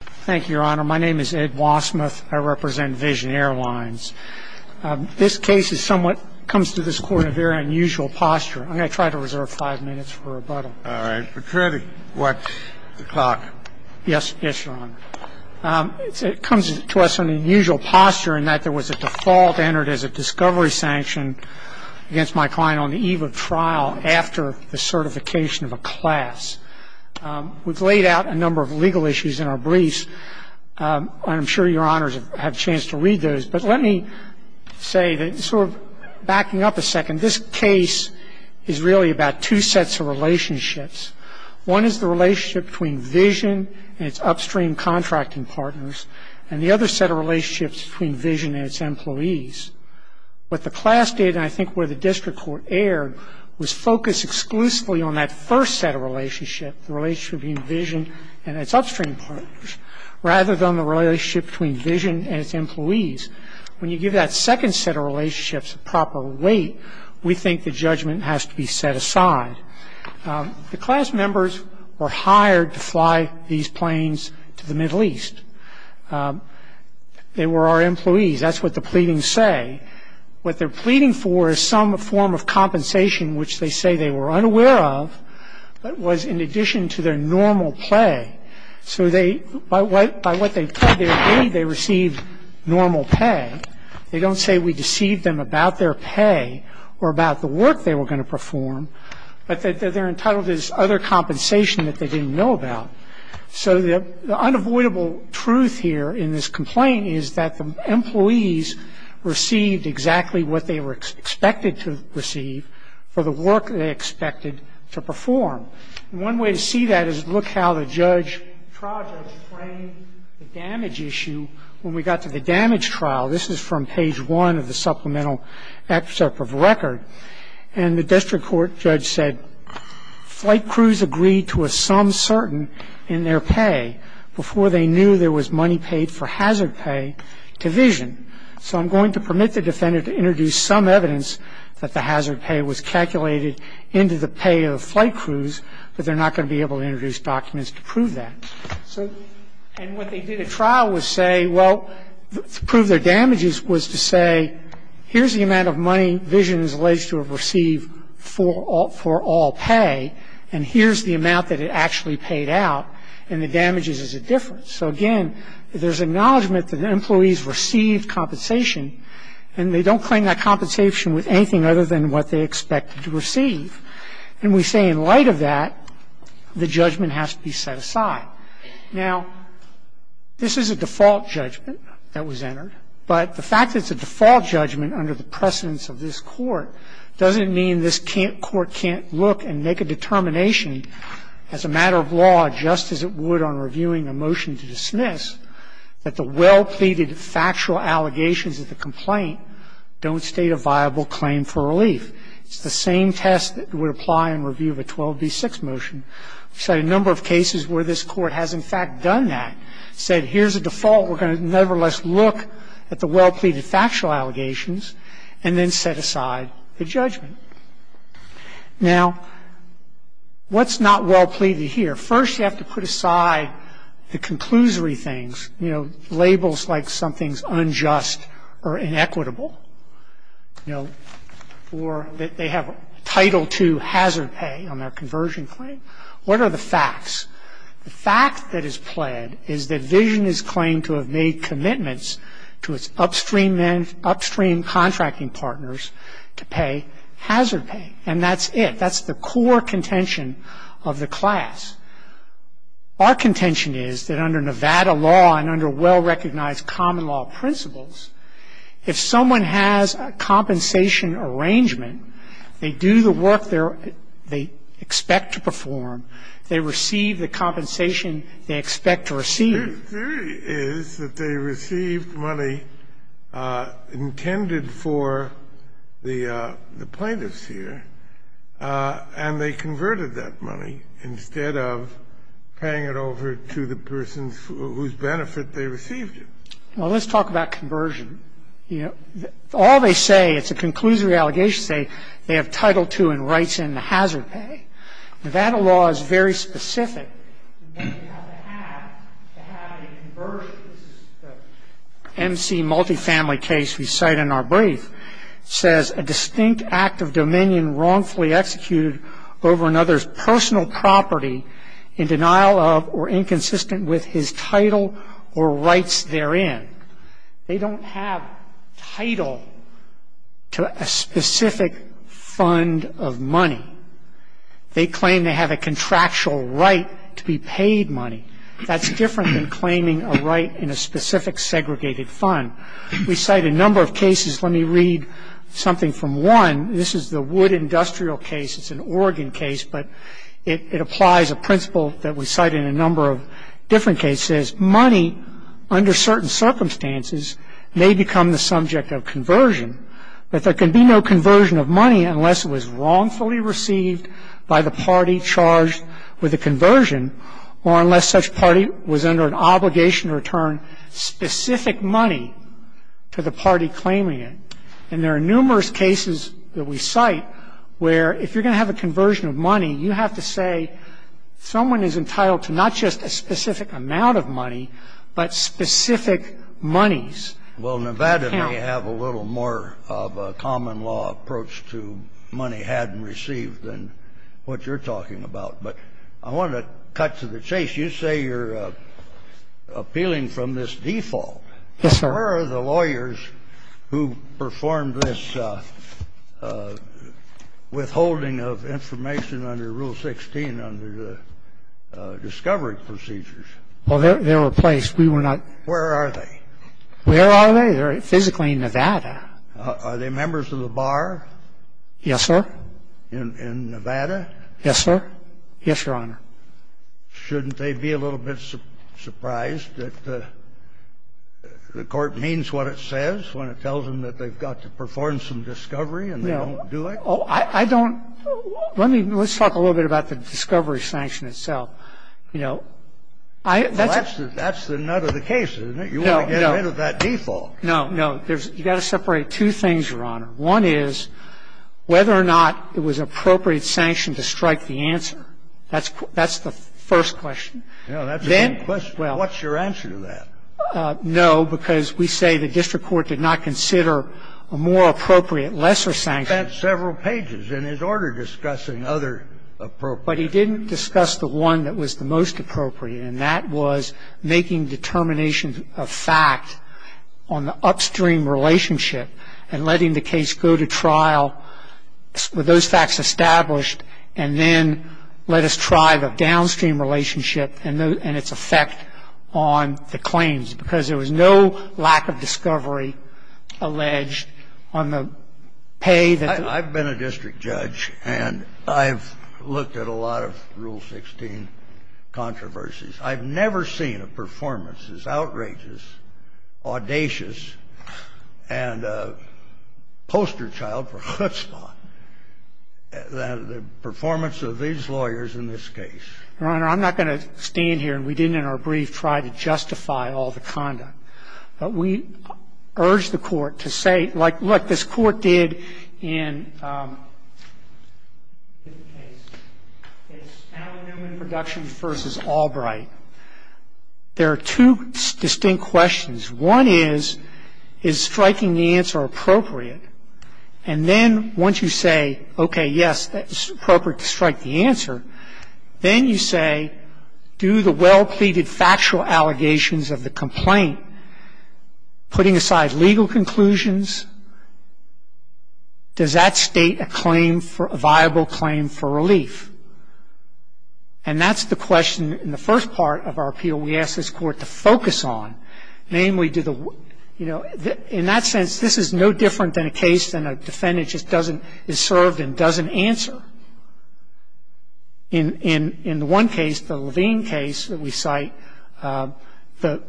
Thank you, Your Honor. My name is Ed Wassmuth. I represent Vision Airlines. This case somewhat comes to this Court in a very unusual posture. I'm going to try to reserve five minutes for rebuttal. All right. Procurator, what's the clock? Yes, Your Honor. It comes to us in an unusual posture in that there was a default entered as a discovery sanction against my client on the eve of trial after the certification of a class. We've laid out a number of legal issues in our briefs, and I'm sure Your Honors have a chance to read those. But let me say that sort of backing up a second, this case is really about two sets of relationships. One is the relationship between Vision and its upstream contracting partners, and the other set of relationships between Vision and its employees. What the class did, and I think where the district court erred, was focus exclusively on that first set of relationships, the relationship between Vision and its upstream partners, rather than the relationship between Vision and its employees. When you give that second set of relationships proper weight, we think the judgment has to be set aside. The class members were hired to fly these planes to the Middle East. They were our employees. That's what the pleadings say. What they're pleading for is some form of compensation, which they say they were unaware of, but was in addition to their normal pay. So by what they paid, they received normal pay. They don't say we deceived them about their pay or about the work they were going to perform, but they're entitled to this other compensation that they didn't know about. So the unavoidable truth here in this complaint is that the employees received exactly what they were expected to receive for the work they expected to perform. And one way to see that is look how the trial judge framed the damage issue when we got to the damage trial. This is from page one of the supplemental excerpt of the record. And the district court judge said, Flight crews agreed to a sum certain in their pay before they knew there was money paid for hazard pay to vision. So I'm going to permit the defendant to introduce some evidence that the hazard pay was calculated into the pay of flight crews, but they're not going to be able to introduce documents to prove that. And what they did at trial was say, well, to prove their damages was to say, here's the amount of money vision is alleged to have received for all pay, and here's the amount that it actually paid out, and the damages is a difference. So again, there's acknowledgement that the employees received compensation, and they don't claim that compensation with anything other than what they expected to receive. And we say in light of that, the judgment has to be set aside. Now, this is a default judgment that was entered. But the fact that it's a default judgment under the precedence of this court doesn't mean this court can't look and make a determination as a matter of law, just as it would on reviewing a motion to dismiss, that the well-pleaded factual allegations of the complaint don't state a viable claim for relief. It's the same test that would apply in review of a 12b6 motion. I've cited a number of cases where this court has, in fact, done that. Said, here's a default. We're going to nevertheless look at the well-pleaded factual allegations and then set aside the judgment. Now, what's not well-pleaded here? First, you have to put aside the conclusory things, you know, labels like something's unjust or inequitable, you know, or that they have Title II hazard pay on their conversion claim. What are the facts? The fact that is pled is that Vision has claimed to have made commitments to its upstream contracting partners to pay hazard pay. And that's it. That's the core contention of the class. Our contention is that under Nevada law and under well-recognized common law principles, if someone has a compensation arrangement, they do the work they expect to perform, they receive the compensation they expect to receive. The theory is that they received money intended for the plaintiffs here, and they converted that money instead of paying it over to the person whose benefit they received it. Well, let's talk about conversion. All they say, it's a conclusory allegation to say they have Title II and rights and hazard pay. Nevada law is very specific. They have the act to have a conversion. This is the MC multifamily case we cite in our brief. It says, a distinct act of dominion wrongfully executed over another's personal property in denial of or inconsistent with his title or rights therein. They don't have title to a specific fund of money. They claim they have a contractual right to be paid money. That's different than claiming a right in a specific segregated fund. We cite a number of cases. Let me read something from one. This is the Wood Industrial case. It's an Oregon case, but it applies a principle that we cite in a number of different cases. It says, money under certain circumstances may become the subject of conversion, but there can be no conversion of money unless it was wrongfully received by the party charged with a conversion or unless such party was under an obligation to return specific money to the party claiming it. And there are numerous cases that we cite where if you're going to have a conversion of money, you have to say someone is entitled to not just a specific amount of money, but specific monies. Well, Nevada may have a little more of a common law approach to money had and received than what you're talking about. But I want to cut to the chase. You say you're appealing from this default. Yes, sir. Where are the lawyers who performed this withholding of information under Rule 16 under the discovery procedures? Well, they were placed. We were not. Where are they? Where are they? They're physically in Nevada. Are they members of the bar? Yes, sir. In Nevada? Yes, sir. Yes, Your Honor. And they were not. They were not members of the bar. Shouldn't they be a little bit surprised that the Court means what it says when it tells them that they've got to perform some discovery and they don't do it? No. I don't – let me – let's talk a little bit about the discovery sanction itself. You know, I… Well, that's the nut of the case, isn't it? No, no. You want to get rid of that default. No, no. You've got to separate two things, Your Honor. One is whether or not it was an appropriate sanction to strike the answer. That's the first question. No, that's the main question. What's your answer to that? No, because we say the district court did not consider a more appropriate, lesser sanction. That's several pages in his order discussing other appropriate. But he didn't discuss the one that was the most appropriate, and that was making determinations of fact on the upstream relationship and letting the case go to trial with those facts established and then let us try the downstream relationship and its effect on the claims because there was no lack of discovery alleged on the pay that… I've been a district judge, and I've looked at a lot of Rule 16 controversies. I've never seen a performance as outrageous, audacious, and a poster child for Hutzpah than the performance of these lawyers in this case. Your Honor, I'm not going to stand here, and we didn't in our brief try to justify all the conduct. But we urge the Court to say, like, look, this Court did in Allen Newman Productions v. Albright. There are two distinct questions. One is, is striking the answer appropriate? And then once you say, okay, yes, it's appropriate to strike the answer, then you say, do the well-pleaded factual allegations of the complaint, putting aside legal conclusions, does that state a claim for a viable claim for relief? And that's the question in the first part of our appeal we asked this Court to focus on, In that sense, this is no different than a case in which a defendant is served and doesn't answer. In the one case, the Levine case that we cite, the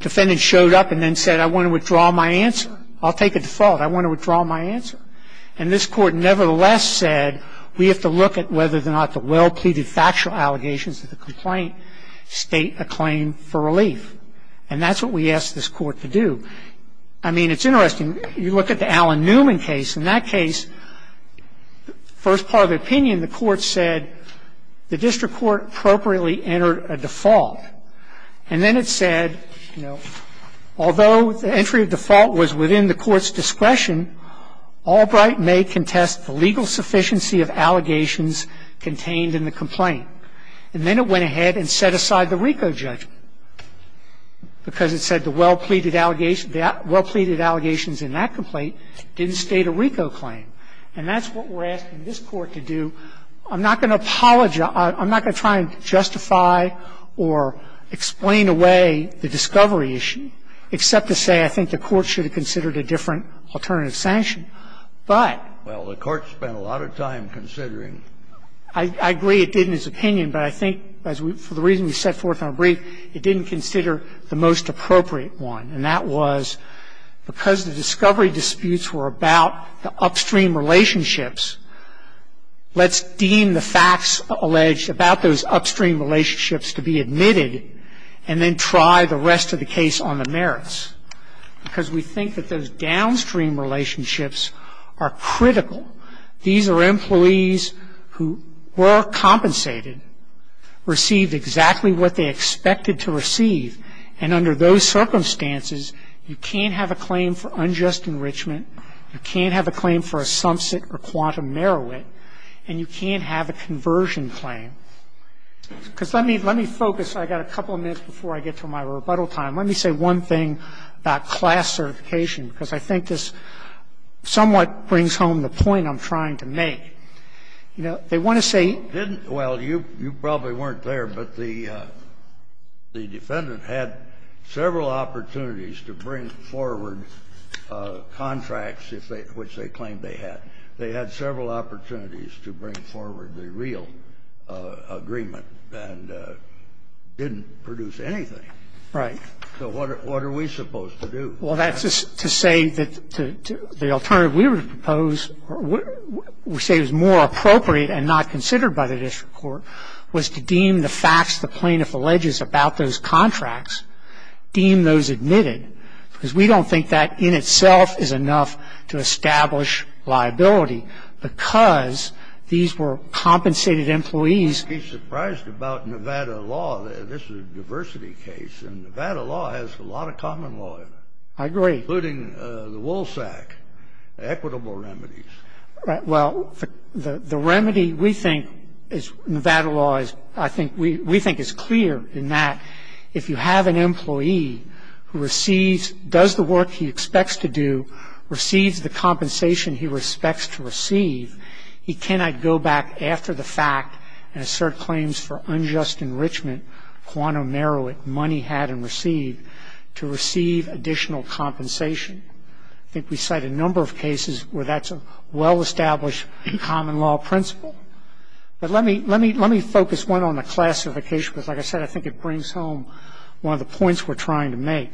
defendant showed up and then said, I want to withdraw my answer. I'll take a default. I want to withdraw my answer. And this Court nevertheless said, we have to look at whether or not the well-pleaded factual allegations of the complaint state a claim for relief. And that's what we asked this Court to do. I mean, it's interesting. You look at the Allen Newman case. In that case, first part of the opinion, the Court said the district court appropriately entered a default. And then it said, you know, although the entry of default was within the Court's discretion, Albright may contest the legal sufficiency of allegations contained in the complaint. And then it went ahead and set aside the RICO judgment because it said the well-pleaded allegations in that complaint didn't state a RICO claim. And that's what we're asking this Court to do. I'm not going to apologize. I'm not going to try and justify or explain away the discovery issue, except to say I think the Court should have considered a different alternative sanction. But the Court spent a lot of time considering. I agree it did in its opinion, but I think for the reason we set forth in our brief, it didn't consider the most appropriate one. And that was because the discovery disputes were about the upstream relationships, let's deem the facts alleged about those upstream relationships to be admitted and then try the rest of the case on the merits. Because we think that those downstream relationships are critical. These are employees who were compensated, received exactly what they expected to receive. And under those circumstances, you can't have a claim for unjust enrichment. You can't have a claim for a sumpset or quantum merowit. And you can't have a conversion claim. Because let me focus. I've got a couple of minutes before I get to my rebuttal time. Let me say one thing about class certification, because I think this somewhat brings home the point I'm trying to make. You know, they want to say you didn't. Well, you probably weren't there, but the defendant had several opportunities to bring forward contracts which they claimed they had. They had several opportunities to bring forward the real agreement and didn't produce anything. Right. So what are we supposed to do? Well, that's to say that the alternative we would propose, we say it was more appropriate and not considered by the district court, was to deem the facts the plaintiff alleges about those contracts, deem those admitted. Because we don't think that in itself is enough to establish liability. Because these were compensated employees. You'd be surprised about Nevada law. This is a diversity case. And Nevada law has a lot of common law in it. I agree. Including the WOLSAC, equitable remedies. Well, the remedy we think is Nevada law, I think, we think is clear in that if you have an employee who receives, does the work he expects to do, receives the compensation he respects to receive, he cannot go back after the fact and assert claims for unjust enrichment, quantum narrow it, money had and received, to receive additional compensation. I think we cite a number of cases where that's a well-established common law principle. But let me focus one on the classification, because, like I said, I think it brings home one of the points we're trying to make.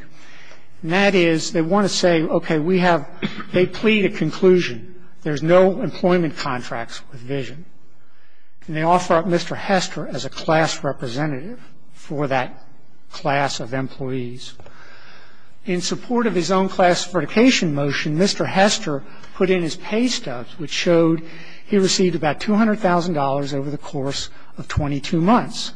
And that is they want to say, okay, we have they plead a conclusion. There's no employment contracts with Vision. And they offer up Mr. Hester as a class representative for that class of employees. In support of his own classification motion, Mr. Hester put in his pay stubs, which showed he received about $200,000 over the course of 22 months.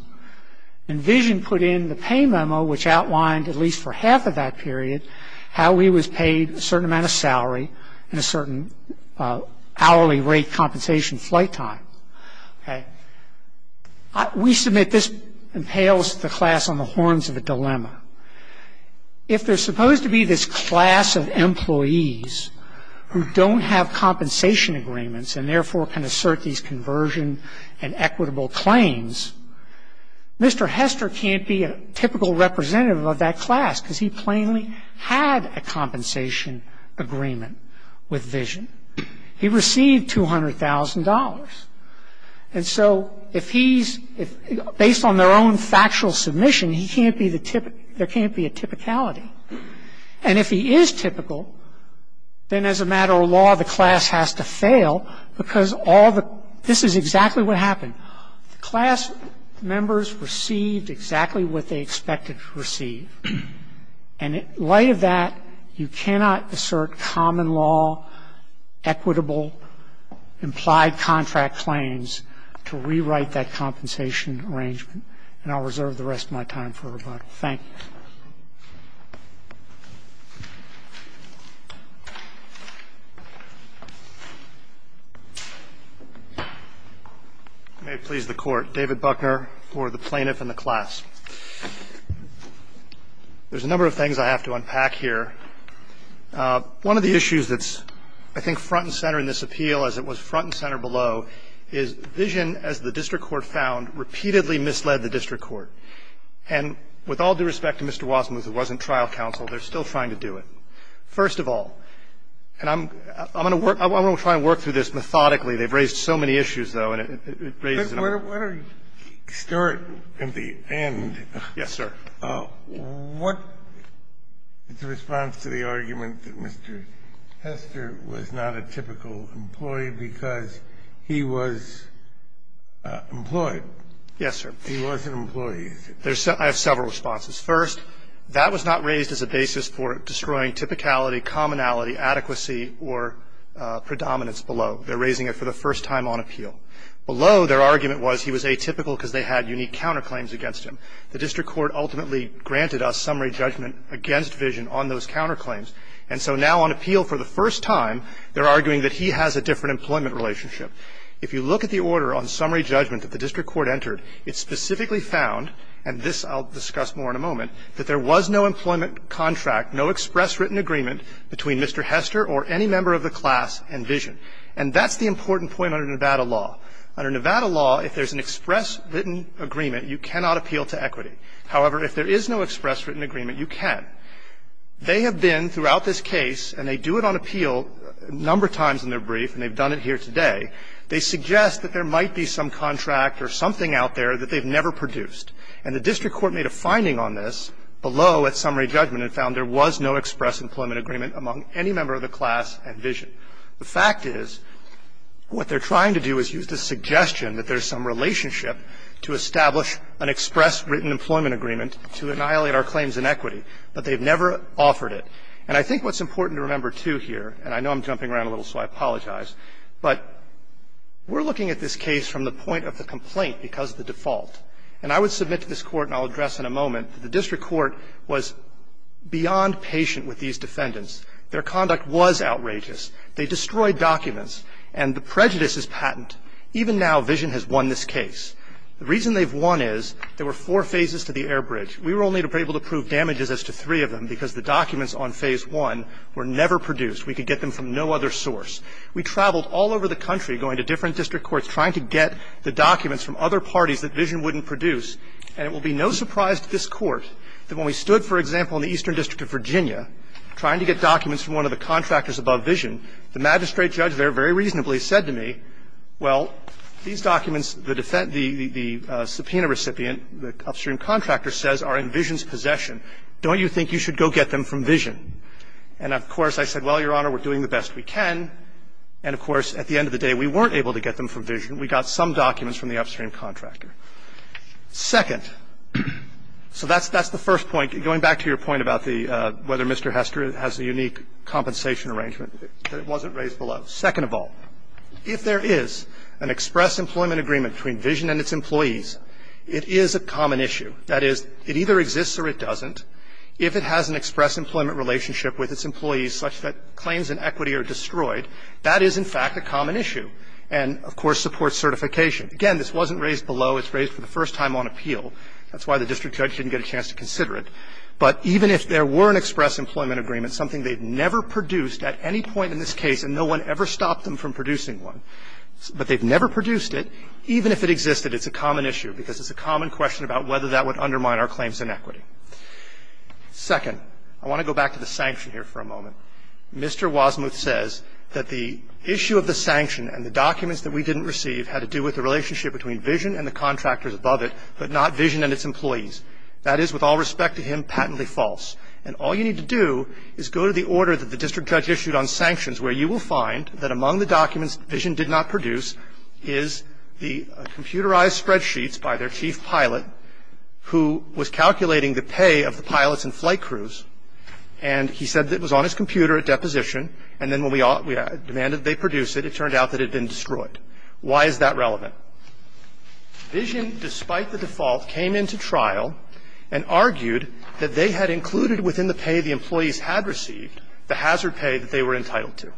And Vision put in the pay memo, which outlined, at least for half of that period, how he was paid a certain amount of salary and a certain hourly rate compensation flight time. We submit this impales the class on the horns of a dilemma. If there's supposed to be this class of employees who don't have compensation agreements and therefore can assert these conversion and equitable claims, Mr. Hester can't be a typical representative of that class, because he plainly had a compensation agreement with Vision. He received $200,000. And so, based on their own factual submission, there can't be a typicality. And if he is typical, then as a matter of law, the class has to fail, because this is exactly what happened. The class members received exactly what they expected to receive. And in light of that, you cannot assert common law, equitable, implied contract claims to rewrite that compensation arrangement. And I'll reserve the rest of my time for rebuttal. Thank you. I may have pleased the Court. David Buckner for the plaintiff and the class. There's a number of things I have to unpack here. One of the issues that's, I think, front and center in this appeal, as it was front and center below, is Vision, as the district court found, repeatedly misled the district court. And with all due respect to Mr. Wasmuth, it wasn't trial counsel. They're still trying to do it. First of all, and I'm going to work – I'm going to try and work through this methodically. They've raised so many issues, though, and it raises a number of issues. Kennedy. But why don't we start at the end? Yes, sir. What is the response to the argument that Mr. Hester was not a typical employee because he was employed? Yes, sir. He was an employee. I have several responses. First, that was not raised as a basis for destroying typicality, commonality, adequacy, or predominance below. They're raising it for the first time on appeal. Below, their argument was he was atypical because they had unique counterclaims against him. The district court ultimately granted us summary judgment against Vision on those counterclaims. And so now on appeal for the first time, they're arguing that he has a different employment relationship. If you look at the order on summary judgment that the district court entered, it specifically found, and this I'll discuss more in a moment, that there was no employment contract, no express written agreement between Mr. Hester or any member of the class and Vision. And that's the important point under Nevada law. Under Nevada law, if there's an express written agreement, you cannot appeal to equity. However, if there is no express written agreement, you can. They have been throughout this case, and they do it on appeal a number of times in their brief, and they've done it here today. They suggest that there might be some contract or something out there that they've never produced. And the district court made a finding on this below at summary judgment and found there was no express employment agreement among any member of the class and Vision. The fact is, what they're trying to do is use the suggestion that there's some relationship to establish an express written employment agreement to annihilate our claims in equity, but they've never offered it. And I think what's important to remember, too, here, and I know I'm jumping around a little, so I apologize, but we're looking at this case from the point of the complaint because of the default. And I would submit to this Court, and I'll address in a moment, that the district court was beyond patient with these defendants. Their conduct was outrageous. They destroyed documents, and the prejudice is patent. Even now, Vision has won this case. The reason they've won is there were four phases to the air bridge. We were only able to prove damages as to three of them because the documents on phase one were never produced. We could get them from no other source. We traveled all over the country going to different district courts trying to get the documents from other parties that Vision wouldn't produce. And it will be no surprise to this Court that when we stood, for example, in the eastern district of Virginia trying to get documents from one of the contractors above Vision, the magistrate judge there very reasonably said to me, well, these documents, the subpoena recipient, the upstream contractor, says are in Vision's possession. Don't you think you should go get them from Vision? And, of course, I said, well, Your Honor, we're doing the best we can. And, of course, at the end of the day, we weren't able to get them from Vision. We got some documents from the upstream contractor. Second, so that's the first point. Going back to your point about whether Mr. Hester has a unique compensation arrangement, that it wasn't raised below. Second of all, if there is an express employment agreement between Vision and its employees, it is a common issue. That is, it either exists or it doesn't. If it has an express employment relationship with its employees such that claims in equity are destroyed, that is, in fact, a common issue. And, of course, supports certification. Again, this wasn't raised below. It's raised for the first time on appeal. That's why the district judge didn't get a chance to consider it. But even if there were an express employment agreement, something they'd never produced at any point in this case, and no one ever stopped them from producing one. But they've never produced it. Even if it existed, it's a common issue because it's a common question about whether that would undermine our claims in equity. Second, I want to go back to the sanction here for a moment. Mr. Wasmuth says that the issue of the sanction and the documents that we didn't receive had to do with the relationship between Vision and the contractors above it, but not Vision and its employees. That is, with all respect to him, patently false. And all you need to do is go to the order that the district judge issued on sanctions, where you will find that among the documents Vision did not produce is the computerized spreadsheets by their chief pilot, who was calculating the pay of the pilots and flight crews, and he said that it was on his computer at deposition, and then when we demanded that they produce it, it turned out that it had been destroyed. Why is that relevant? Vision, despite the default, came into trial and argued that they had included within the pay the employees had received the hazard pay that they were entitled to.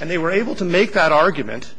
And they were able to make that argument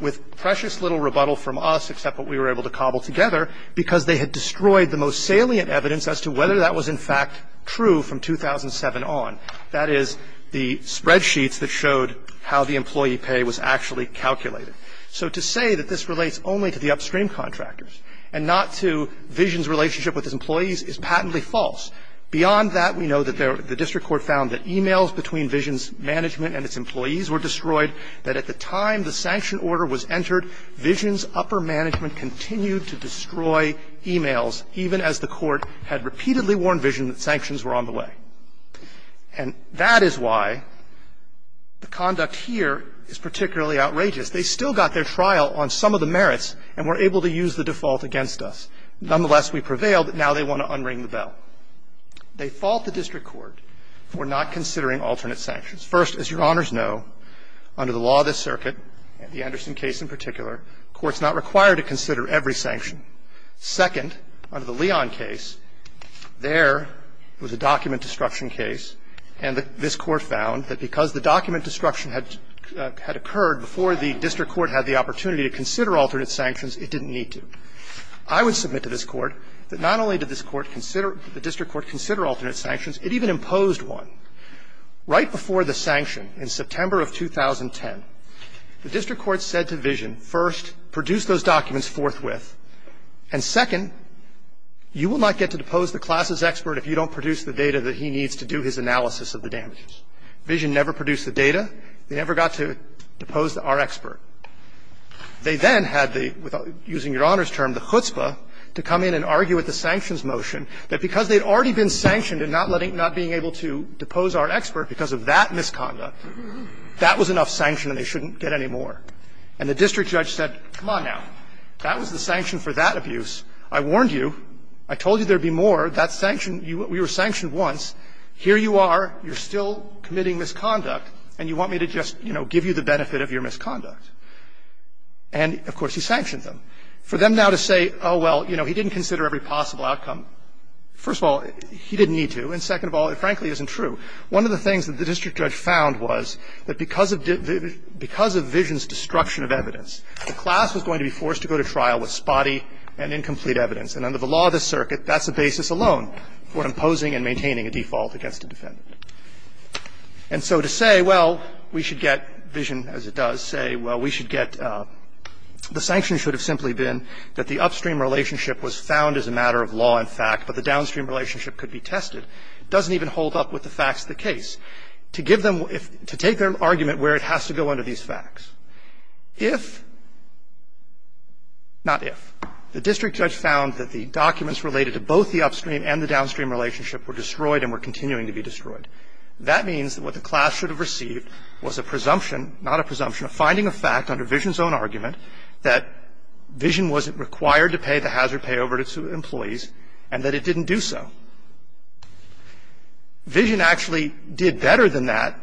with precious little rebuttal from us, except what we were able to cobble together, because they had destroyed the most salient evidence as to whether that was in fact true from 2007 on. That is, the spreadsheets that showed how the employee pay was actually calculated. So to say that this relates only to the upstream contractors and not to Vision's relationship with his employees is patently false. Beyond that, we know that the district court found that emails between Vision's management and its employees were destroyed, that at the time the sanction order was entered, Vision's upper management continued to destroy emails, even as the court had repeatedly warned Vision that sanctions were on the way. And that is why the conduct here is particularly outrageous. They still got their trial on some of the merits and were able to use the default against us. Nonetheless, we prevailed. Now they want to unring the bell. They fault the district court for not considering alternate sanctions. First, as Your Honors know, under the law of the circuit, the Anderson case in particular, courts are not required to consider every sanction. Second, under the Leon case, there was a document destruction case, and this court found that because the document destruction had occurred before the district court had the opportunity to consider alternate sanctions, it didn't need to. I would submit to this Court that not only did this Court consider the district court consider alternate sanctions, it even imposed one. Right before the sanction, in September of 2010, the district court said to Vision, first, produce those documents forthwith, and second, you will not get to depose the classes expert if you don't produce the data that he needs to do his analysis of the damages. Vision never produced the data. They never got to depose our expert. They then had the, using Your Honors' term, the chutzpah, to come in and argue with the sanctions motion, that because they had already been sanctioned and not letting them, not being able to depose our expert because of that misconduct, that was enough sanction and they shouldn't get any more. And the district judge said, come on now, that was the sanction for that abuse. I warned you. I told you there would be more. That sanction, we were sanctioned once. Here you are, you're still committing misconduct, and you want me to just, you know, give you the benefit of your misconduct. And, of course, he sanctioned them. For them now to say, oh, well, you know, he didn't consider every possible outcome, first of all, he didn't need to, and second of all, it frankly isn't true. One of the things that the district judge found was that because of Vision's destruction of evidence, the class was going to be forced to go to trial with spotty and incomplete evidence, and under the law of this circuit, that's the basis alone for imposing and maintaining a default against a defendant. And so to say, well, we should get Vision, as it does, say, well, we should get the sanction should have simply been that the upstream relationship was found as a matter of law and fact, but the downstream relationship could be tested, doesn't even hold up with the facts of the case. To give them to take their argument where it has to go under these facts, if, not if, the district judge found that the documents related to both the upstream and the downstream relationship were destroyed and were continuing to be destroyed. That means that what the class should have received was a presumption, not a presumption, a finding of fact under Vision's own argument that Vision wasn't required to pay the hazard pay over to employees and that it didn't do so. Vision actually did better than that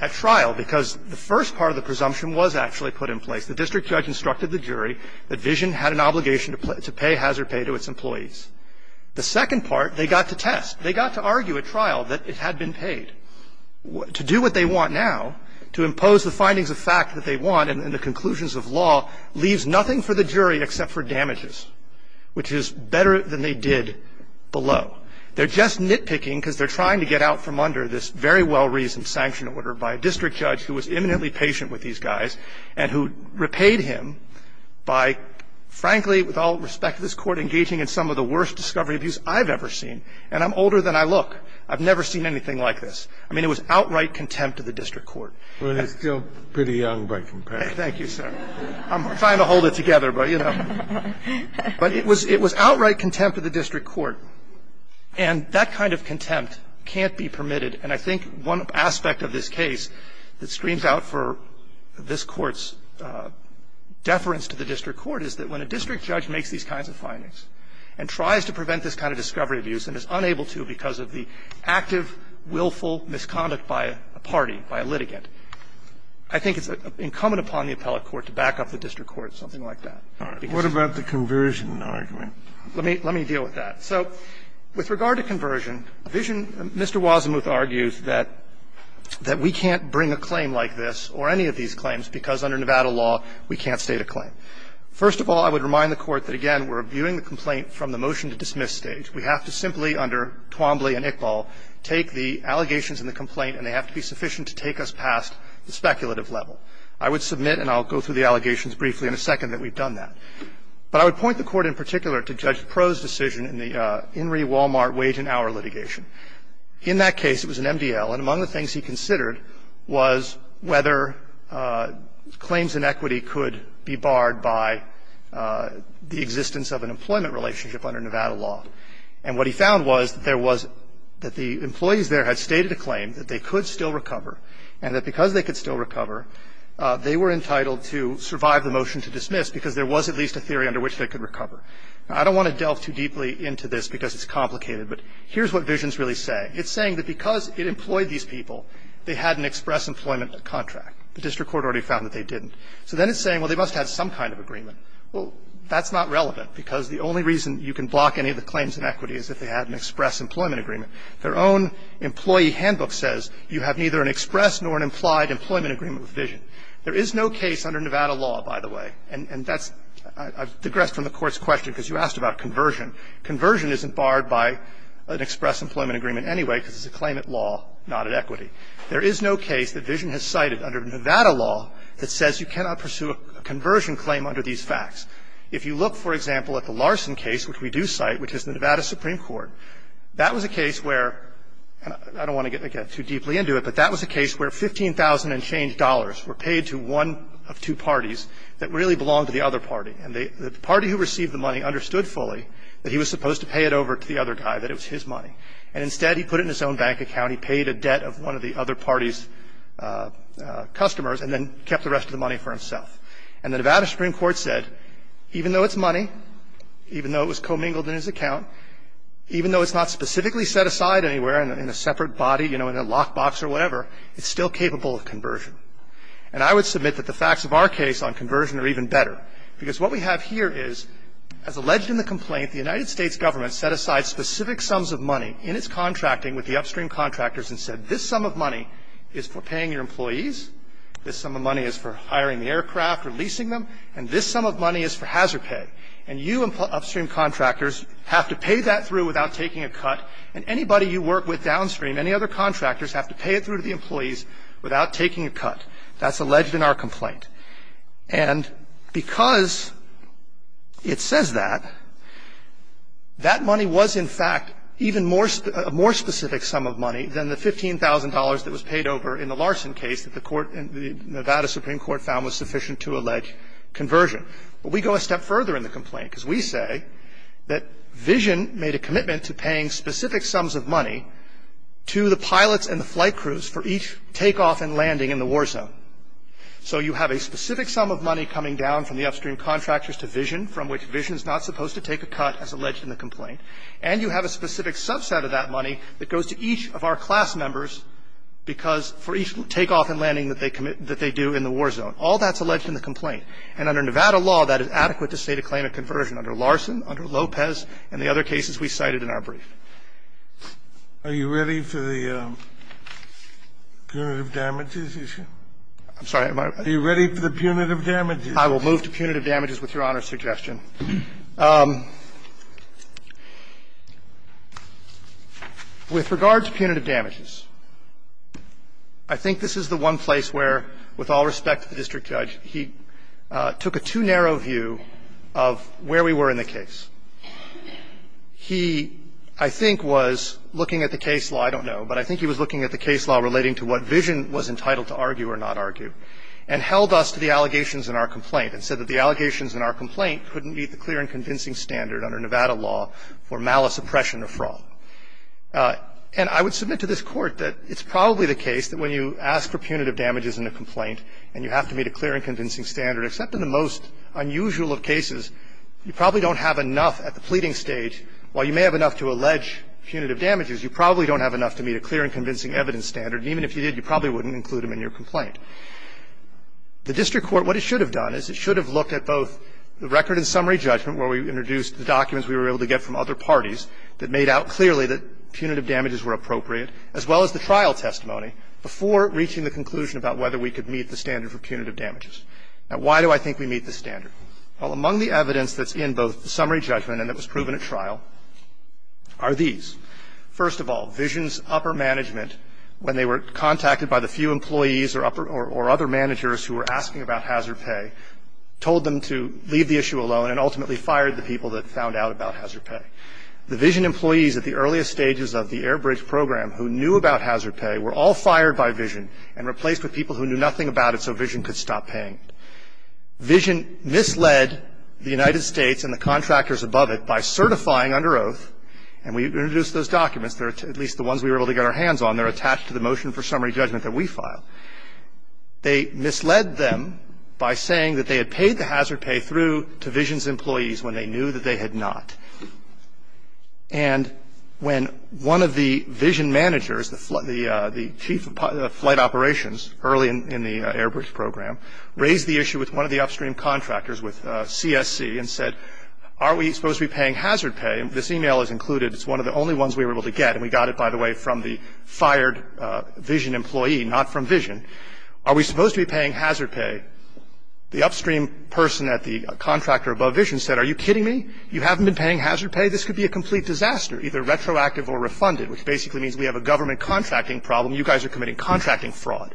at trial because the first part of the presumption was actually put in place. The district judge instructed the jury that Vision had an obligation to pay hazard pay to its employees. The second part, they got to test. They got to argue at trial that it had been paid. To do what they want now, to impose the findings of fact that they want and the conclusions of law, leaves nothing for the jury except for damages, which is better than they did below. They're just nitpicking because they're trying to get out from under this very well reasoned sanction order by a district judge who was imminently patient with these guys and who repaid him by, frankly, with all respect to this Court, engaging in some of the worst discovery abuse I've ever seen. And I'm older than I look. I've never seen anything like this. I mean, it was outright contempt of the district court. Kennedy, still pretty young by comparison. Thank you, sir. I'm trying to hold it together, but, you know. But it was outright contempt of the district court. And that kind of contempt can't be permitted. And I think one aspect of this case that screams out for this Court's deference to the district court is that when a district judge makes these kinds of findings and tries to prevent this kind of discovery abuse and is unable to because of the active, willful misconduct by a party, by a litigant, I think it's incumbent upon the appellate court to back up the district court, something like that. Because of that. Roberts, what about the conversion argument? Let me deal with that. So with regard to conversion, Vision Mr. Wazemuth argues that we can't bring a claim like this or any of these claims because under Nevada law, we can't state a claim. First of all, I would remind the Court that, again, we're viewing the complaint from the motion-to-dismiss stage. We have to simply, under Twombly and Iqbal, take the allegations in the complaint and they have to be sufficient to take us past the speculative level. I would submit, and I'll go through the allegations briefly in a second, that we've done that. But I would point the Court in particular to Judge Proh's decision in the In re. Walmart wage and hour litigation. In that case, it was an MDL, and among the things he considered was whether claims in equity could be barred by the existence of an employment relationship under Nevada law. And what he found was that there was the employees there had stated a claim, that they could still recover, and that because they could still recover, they were entitled to survive the motion-to-dismiss because there was at least a theory under which they could recover. Now, I don't want to delve too deeply into this because it's complicated, but here's what Visions really say. It's saying that because it employed these people, they had an express employment contract. The district court already found that they didn't. So then it's saying, well, they must have some kind of agreement. Well, that's not relevant because the only reason you can block any of the claims in equity is if they had an express employment agreement. Their own employee handbook says you have neither an express nor an implied employment agreement with Visions. There is no case under Nevada law, by the way. And that's, I digress from the Court's question because you asked about conversion. Conversion isn't barred by an express employment agreement anyway because it's a claim at law, not at equity. There is no case that Visions has cited under Nevada law that says you cannot pursue a conversion claim under these facts. If you look, for example, at the Larson case, which we do cite, which is the Nevada Supreme Court, that was a case where, and I don't want to get too deeply into it, but that was a case where 15,000 unchanged dollars were paid to one of two parties that really belonged to the other party. And the party who received the money understood fully that he was supposed to pay it over to the other guy, that it was his money. And instead, he put it in his own bank account. He paid a debt of one of the other party's customers and then kept the rest of the money for himself. And the Nevada Supreme Court said, even though it's money, even though it was commingled in his account, even though it's not specifically set aside anywhere in a separate body, you know, in a lockbox or whatever, it's still capable of conversion. And I would submit that the facts of our case on conversion are even better. Because what we have here is, as alleged in the complaint, the United States government set aside specific sums of money in its contracting with the upstream contractors and said, this sum of money is for paying your employees. This sum of money is for hiring the aircraft or leasing them. And this sum of money is for hazard pay. And you upstream contractors have to pay that through without taking a cut. And anybody you work with downstream, any other contractors, have to pay it through the employees without taking a cut. That's alleged in our complaint. And because it says that, that money was, in fact, even a more specific sum of money than the $15,000 that was paid over in the Larson case that the Nevada Supreme Court found was sufficient to allege conversion. But we go a step further in the complaint, because we say that Vision made a commitment to paying specific sums of money to the pilots and the flight crews for each takeoff and landing in the war zone. So you have a specific sum of money coming down from the upstream contractors to Vision, from which Vision is not supposed to take a cut, as alleged in the complaint. And you have a specific subset of that money that goes to each of our class members because for each takeoff and landing that they do in the war zone. All that's alleged in the complaint. And under Nevada law, that is adequate to say to claim a conversion. Under Larson, under Lopez, and the other cases we cited in our brief. Are you ready for the punitive damages issue? I'm sorry. Are you ready for the punitive damages? I will move to punitive damages with Your Honor's suggestion. With regard to punitive damages, I think this is the one place where, with all respect to the district judge, he took a too narrow view of where we were in the case. He, I think, was looking at the case law, I don't know, but I think he was looking at the case law relating to what Vision was entitled to argue or not argue, and held us to the allegations in our complaint and said that the allegations in our complaint couldn't meet the clear and convincing standard under Nevada law for malice, oppression, or fraud. And I would submit to this Court that it's probably the case that when you ask for punitive damages in a complaint and you have to meet a clear and convincing standard, except in the most unusual of cases, you probably don't have enough at the pleading stage, while you may have enough to allege punitive damages, you probably don't have enough to meet a clear and convincing evidence standard. And even if you did, you probably wouldn't include them in your complaint. The district court, what it should have done is it should have looked at both the record and summary judgment where we introduced the documents we were able to get from other parties that made out clearly that punitive damages were appropriate, as well as the trial testimony, before reaching the conclusion about whether we could meet the standard for punitive damages. Now, why do I think we meet the standard? Well, among the evidence that's in both the summary judgment and that was proven at trial are these. First of all, Vision's upper management, when they were contacted by the few employees or other managers who were asking about hazard pay, told them to leave the issue alone and ultimately fired the people that found out about hazard pay. The Vision employees at the earliest stages of the Airbridge program who knew about hazard pay were all fired by Vision and replaced with people who knew nothing about it so Vision could stop paying. Vision misled the United States and the contractors above it by certifying under oath, and we introduced those documents. They're at least the ones we were able to get our hands on. They're attached to the motion for summary judgment that we filed. They misled them by saying that they had paid the hazard pay through to Vision's employees when they knew that they had not. And when one of the Vision managers, the chief of flight operations early in the Airbridge program, raised the issue with one of the upstream contractors with CSC and said, are we supposed to be paying hazard pay? This email is included. It's one of the only ones we were able to get, and we got it, by the way, from the Are we supposed to be paying hazard pay? The upstream person at the contractor above Vision said, are you kidding me? You haven't been paying hazard pay? This could be a complete disaster, either retroactive or refunded, which basically means we have a government contracting problem. You guys are committing contracting fraud.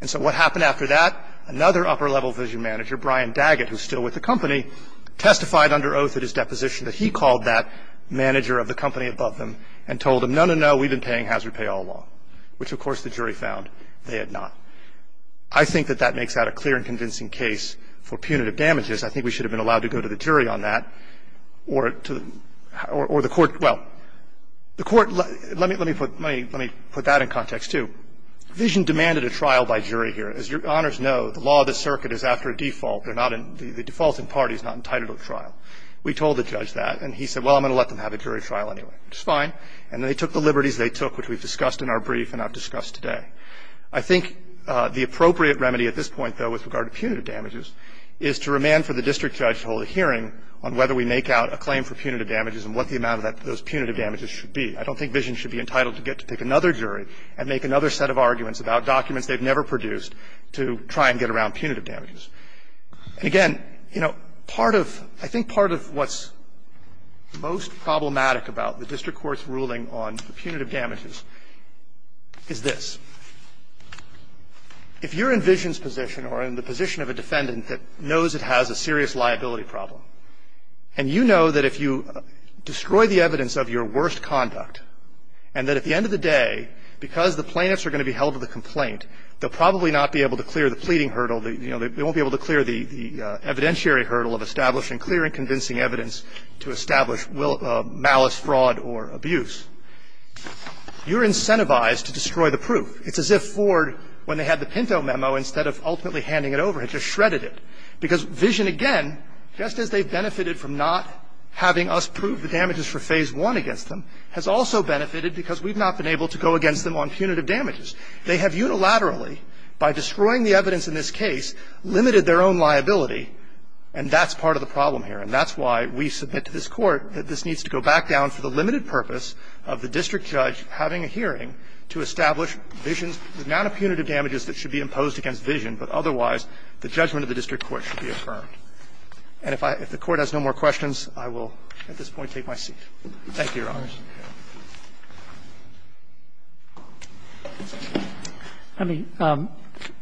And so what happened after that? Another upper-level Vision manager, Brian Daggett, who's still with the company, testified under oath at his deposition that he called that manager of the company above them and told them, no, no, no, we've been paying hazard pay all along, which, of course, the jury found they had not. I think that that makes that a clear and convincing case for punitive damages. I think we should have been allowed to go to the jury on that or the court – well, the court – let me put that in context, too. Vision demanded a trial by jury here. As your honors know, the law of the circuit is after a default. They're not in – the defaulting party is not entitled to a trial. We told the judge that, and he said, well, I'm going to let them have a jury trial anyway, which is fine. And they took the liberties they took, which we've discussed in our brief and have discussed today. I think the appropriate remedy at this point, though, with regard to punitive damages is to remand for the district judge to hold a hearing on whether we make out a claim for punitive damages and what the amount of those punitive damages should be. I don't think Vision should be entitled to get to pick another jury and make another set of arguments about documents they've never produced to try and get around punitive damages. And, again, you know, part of – I think part of what's most problematic about the district court's ruling on punitive damages is this. If you're in Vision's position or in the position of a defendant that knows it has a serious liability problem, and you know that if you destroy the evidence of your worst conduct and that at the end of the day, because the plaintiffs are going to be held to the complaint, they'll probably not be able to clear the pleading hurdle. You know, they won't be able to clear the evidentiary hurdle of establishing clear and convincing evidence to establish malice, fraud, or abuse. You're incentivized to destroy the proof. It's as if Ford, when they had the Pinto memo, instead of ultimately handing it over, had just shredded it. Because Vision, again, just as they've benefited from not having us prove the damages for Phase I against them, has also benefited because we've not been able to go against them on punitive damages. They have unilaterally, by destroying the evidence in this case, limited their own liability, and that's part of the problem here. And that's why we submit to this Court that this needs to go back down for the limited purpose of the district judge having a hearing to establish Vision's amount of punitive damages that should be imposed against Vision, but otherwise the judgment of the district court should be affirmed. And if the Court has no more questions, I will at this point take my seat. Thank you, Your Honors. I mean,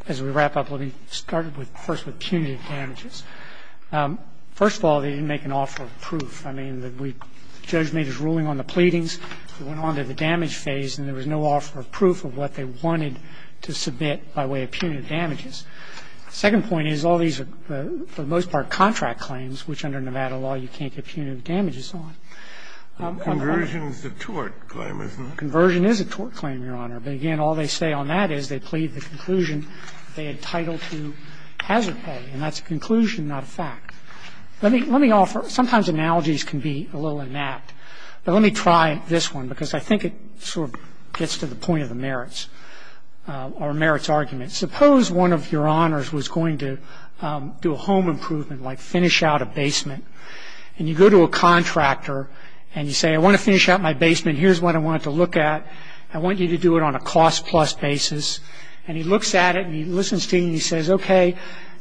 as we wrap up, let me start first with punitive damages. First of all, they didn't make an offer of proof. I mean, the judge made his ruling on the pleadings. It went on to the damage phase, and there was no offer of proof of what they wanted to submit by way of punitive damages. The second point is all these are, for the most part, contract claims, which under Nevada law you can't get punitive damages on. Conversion is a tort claim, isn't it? Conversion is a tort claim, Your Honor. But, again, all they say on that is they plead the conclusion they entitled to hazard pay, and that's a conclusion, not a fact. Let me offer, sometimes analogies can be a little inept, but let me try this one because I think it sort of gets to the point of the merits, or merits argument. Suppose one of Your Honors was going to do a home improvement, like finish out a and you say, I want to finish out my basement. Here's what I want to look at. I want you to do it on a cost plus basis. And he looks at it, and he listens to you, and he says, okay,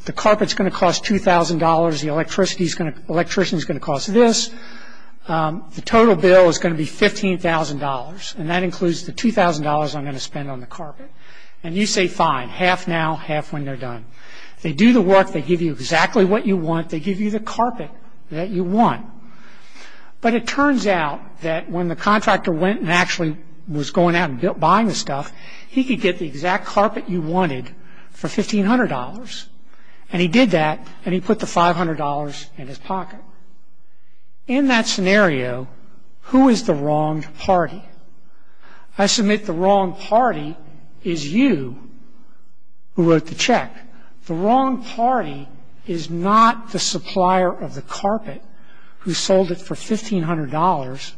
the carpet's going to cost $2,000, the electrician's going to cost this, the total bill is going to be $15,000, and that includes the $2,000 I'm going to spend on the carpet. And you say, fine, half now, half when they're done. They do the work. They give you exactly what you want. They give you the carpet that you want. But it turns out that when the contractor went and actually was going out and buying the stuff, he could get the exact carpet you wanted for $1,500. And he did that, and he put the $500 in his pocket. In that scenario, who is the wronged party? I submit the wronged party is you who wrote the check. The wronged party is not the supplier of the carpet who sold it for $1,500,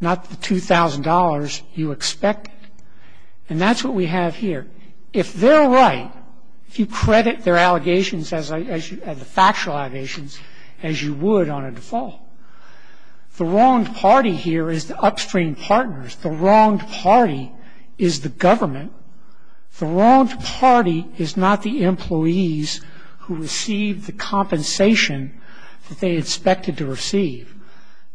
not the $2,000 you expected. And that's what we have here. If they're right, if you credit their allegations as the factual allegations as you would on a default, the wronged party here is the upstream partners. The wronged party is the government. The wronged party is not the employees who receive the compensation that they expected to receive.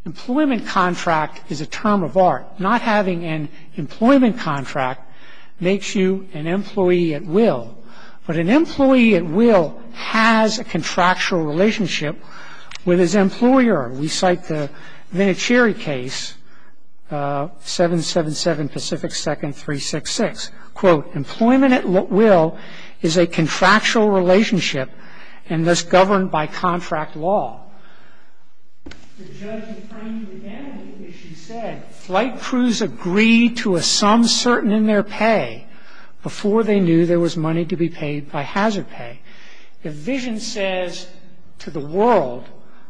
Employment contract is a term of art. Not having an employment contract makes you an employee at will. But an employee at will has a contractual relationship with his employer. We cite the Vinicieri case, 777 Pacific 2nd, 366. Quote, employment at will is a contractual relationship and thus governed by contract law. The judge is trying to examine it, as she said, flight crews agree to a sum certain in their pay before they knew there was money to be paid by hazard pay. If Vision says to the world,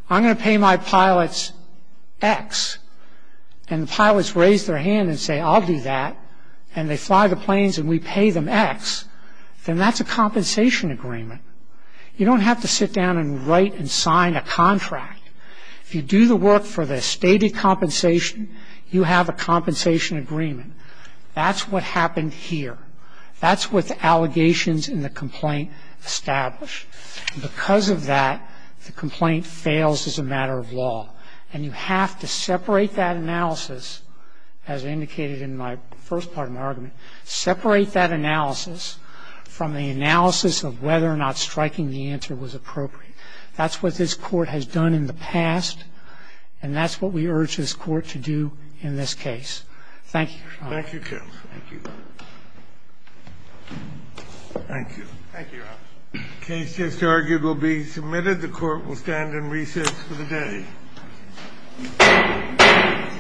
I'm going to pay my pilots X and the pilots raise their hand and say, I'll do that and they fly the planes and we pay them X, then that's a compensation agreement. You don't have to sit down and write and sign a contract. If you do the work for the stated compensation, you have a compensation agreement. That's what happened here. That's what the allegations in the complaint establish. Because of that, the complaint fails as a matter of law. And you have to separate that analysis, as indicated in my first part of my argument, separate that analysis from the analysis of whether or not striking the answer was appropriate. That's what this Court has done in the past and that's what we urge this Court to do in this case. Thank you, Your Honor. Thank you, counsel. Thank you. Thank you. Thank you, Your Honor. The case just argued will be submitted. The Court will stand in recess for the day.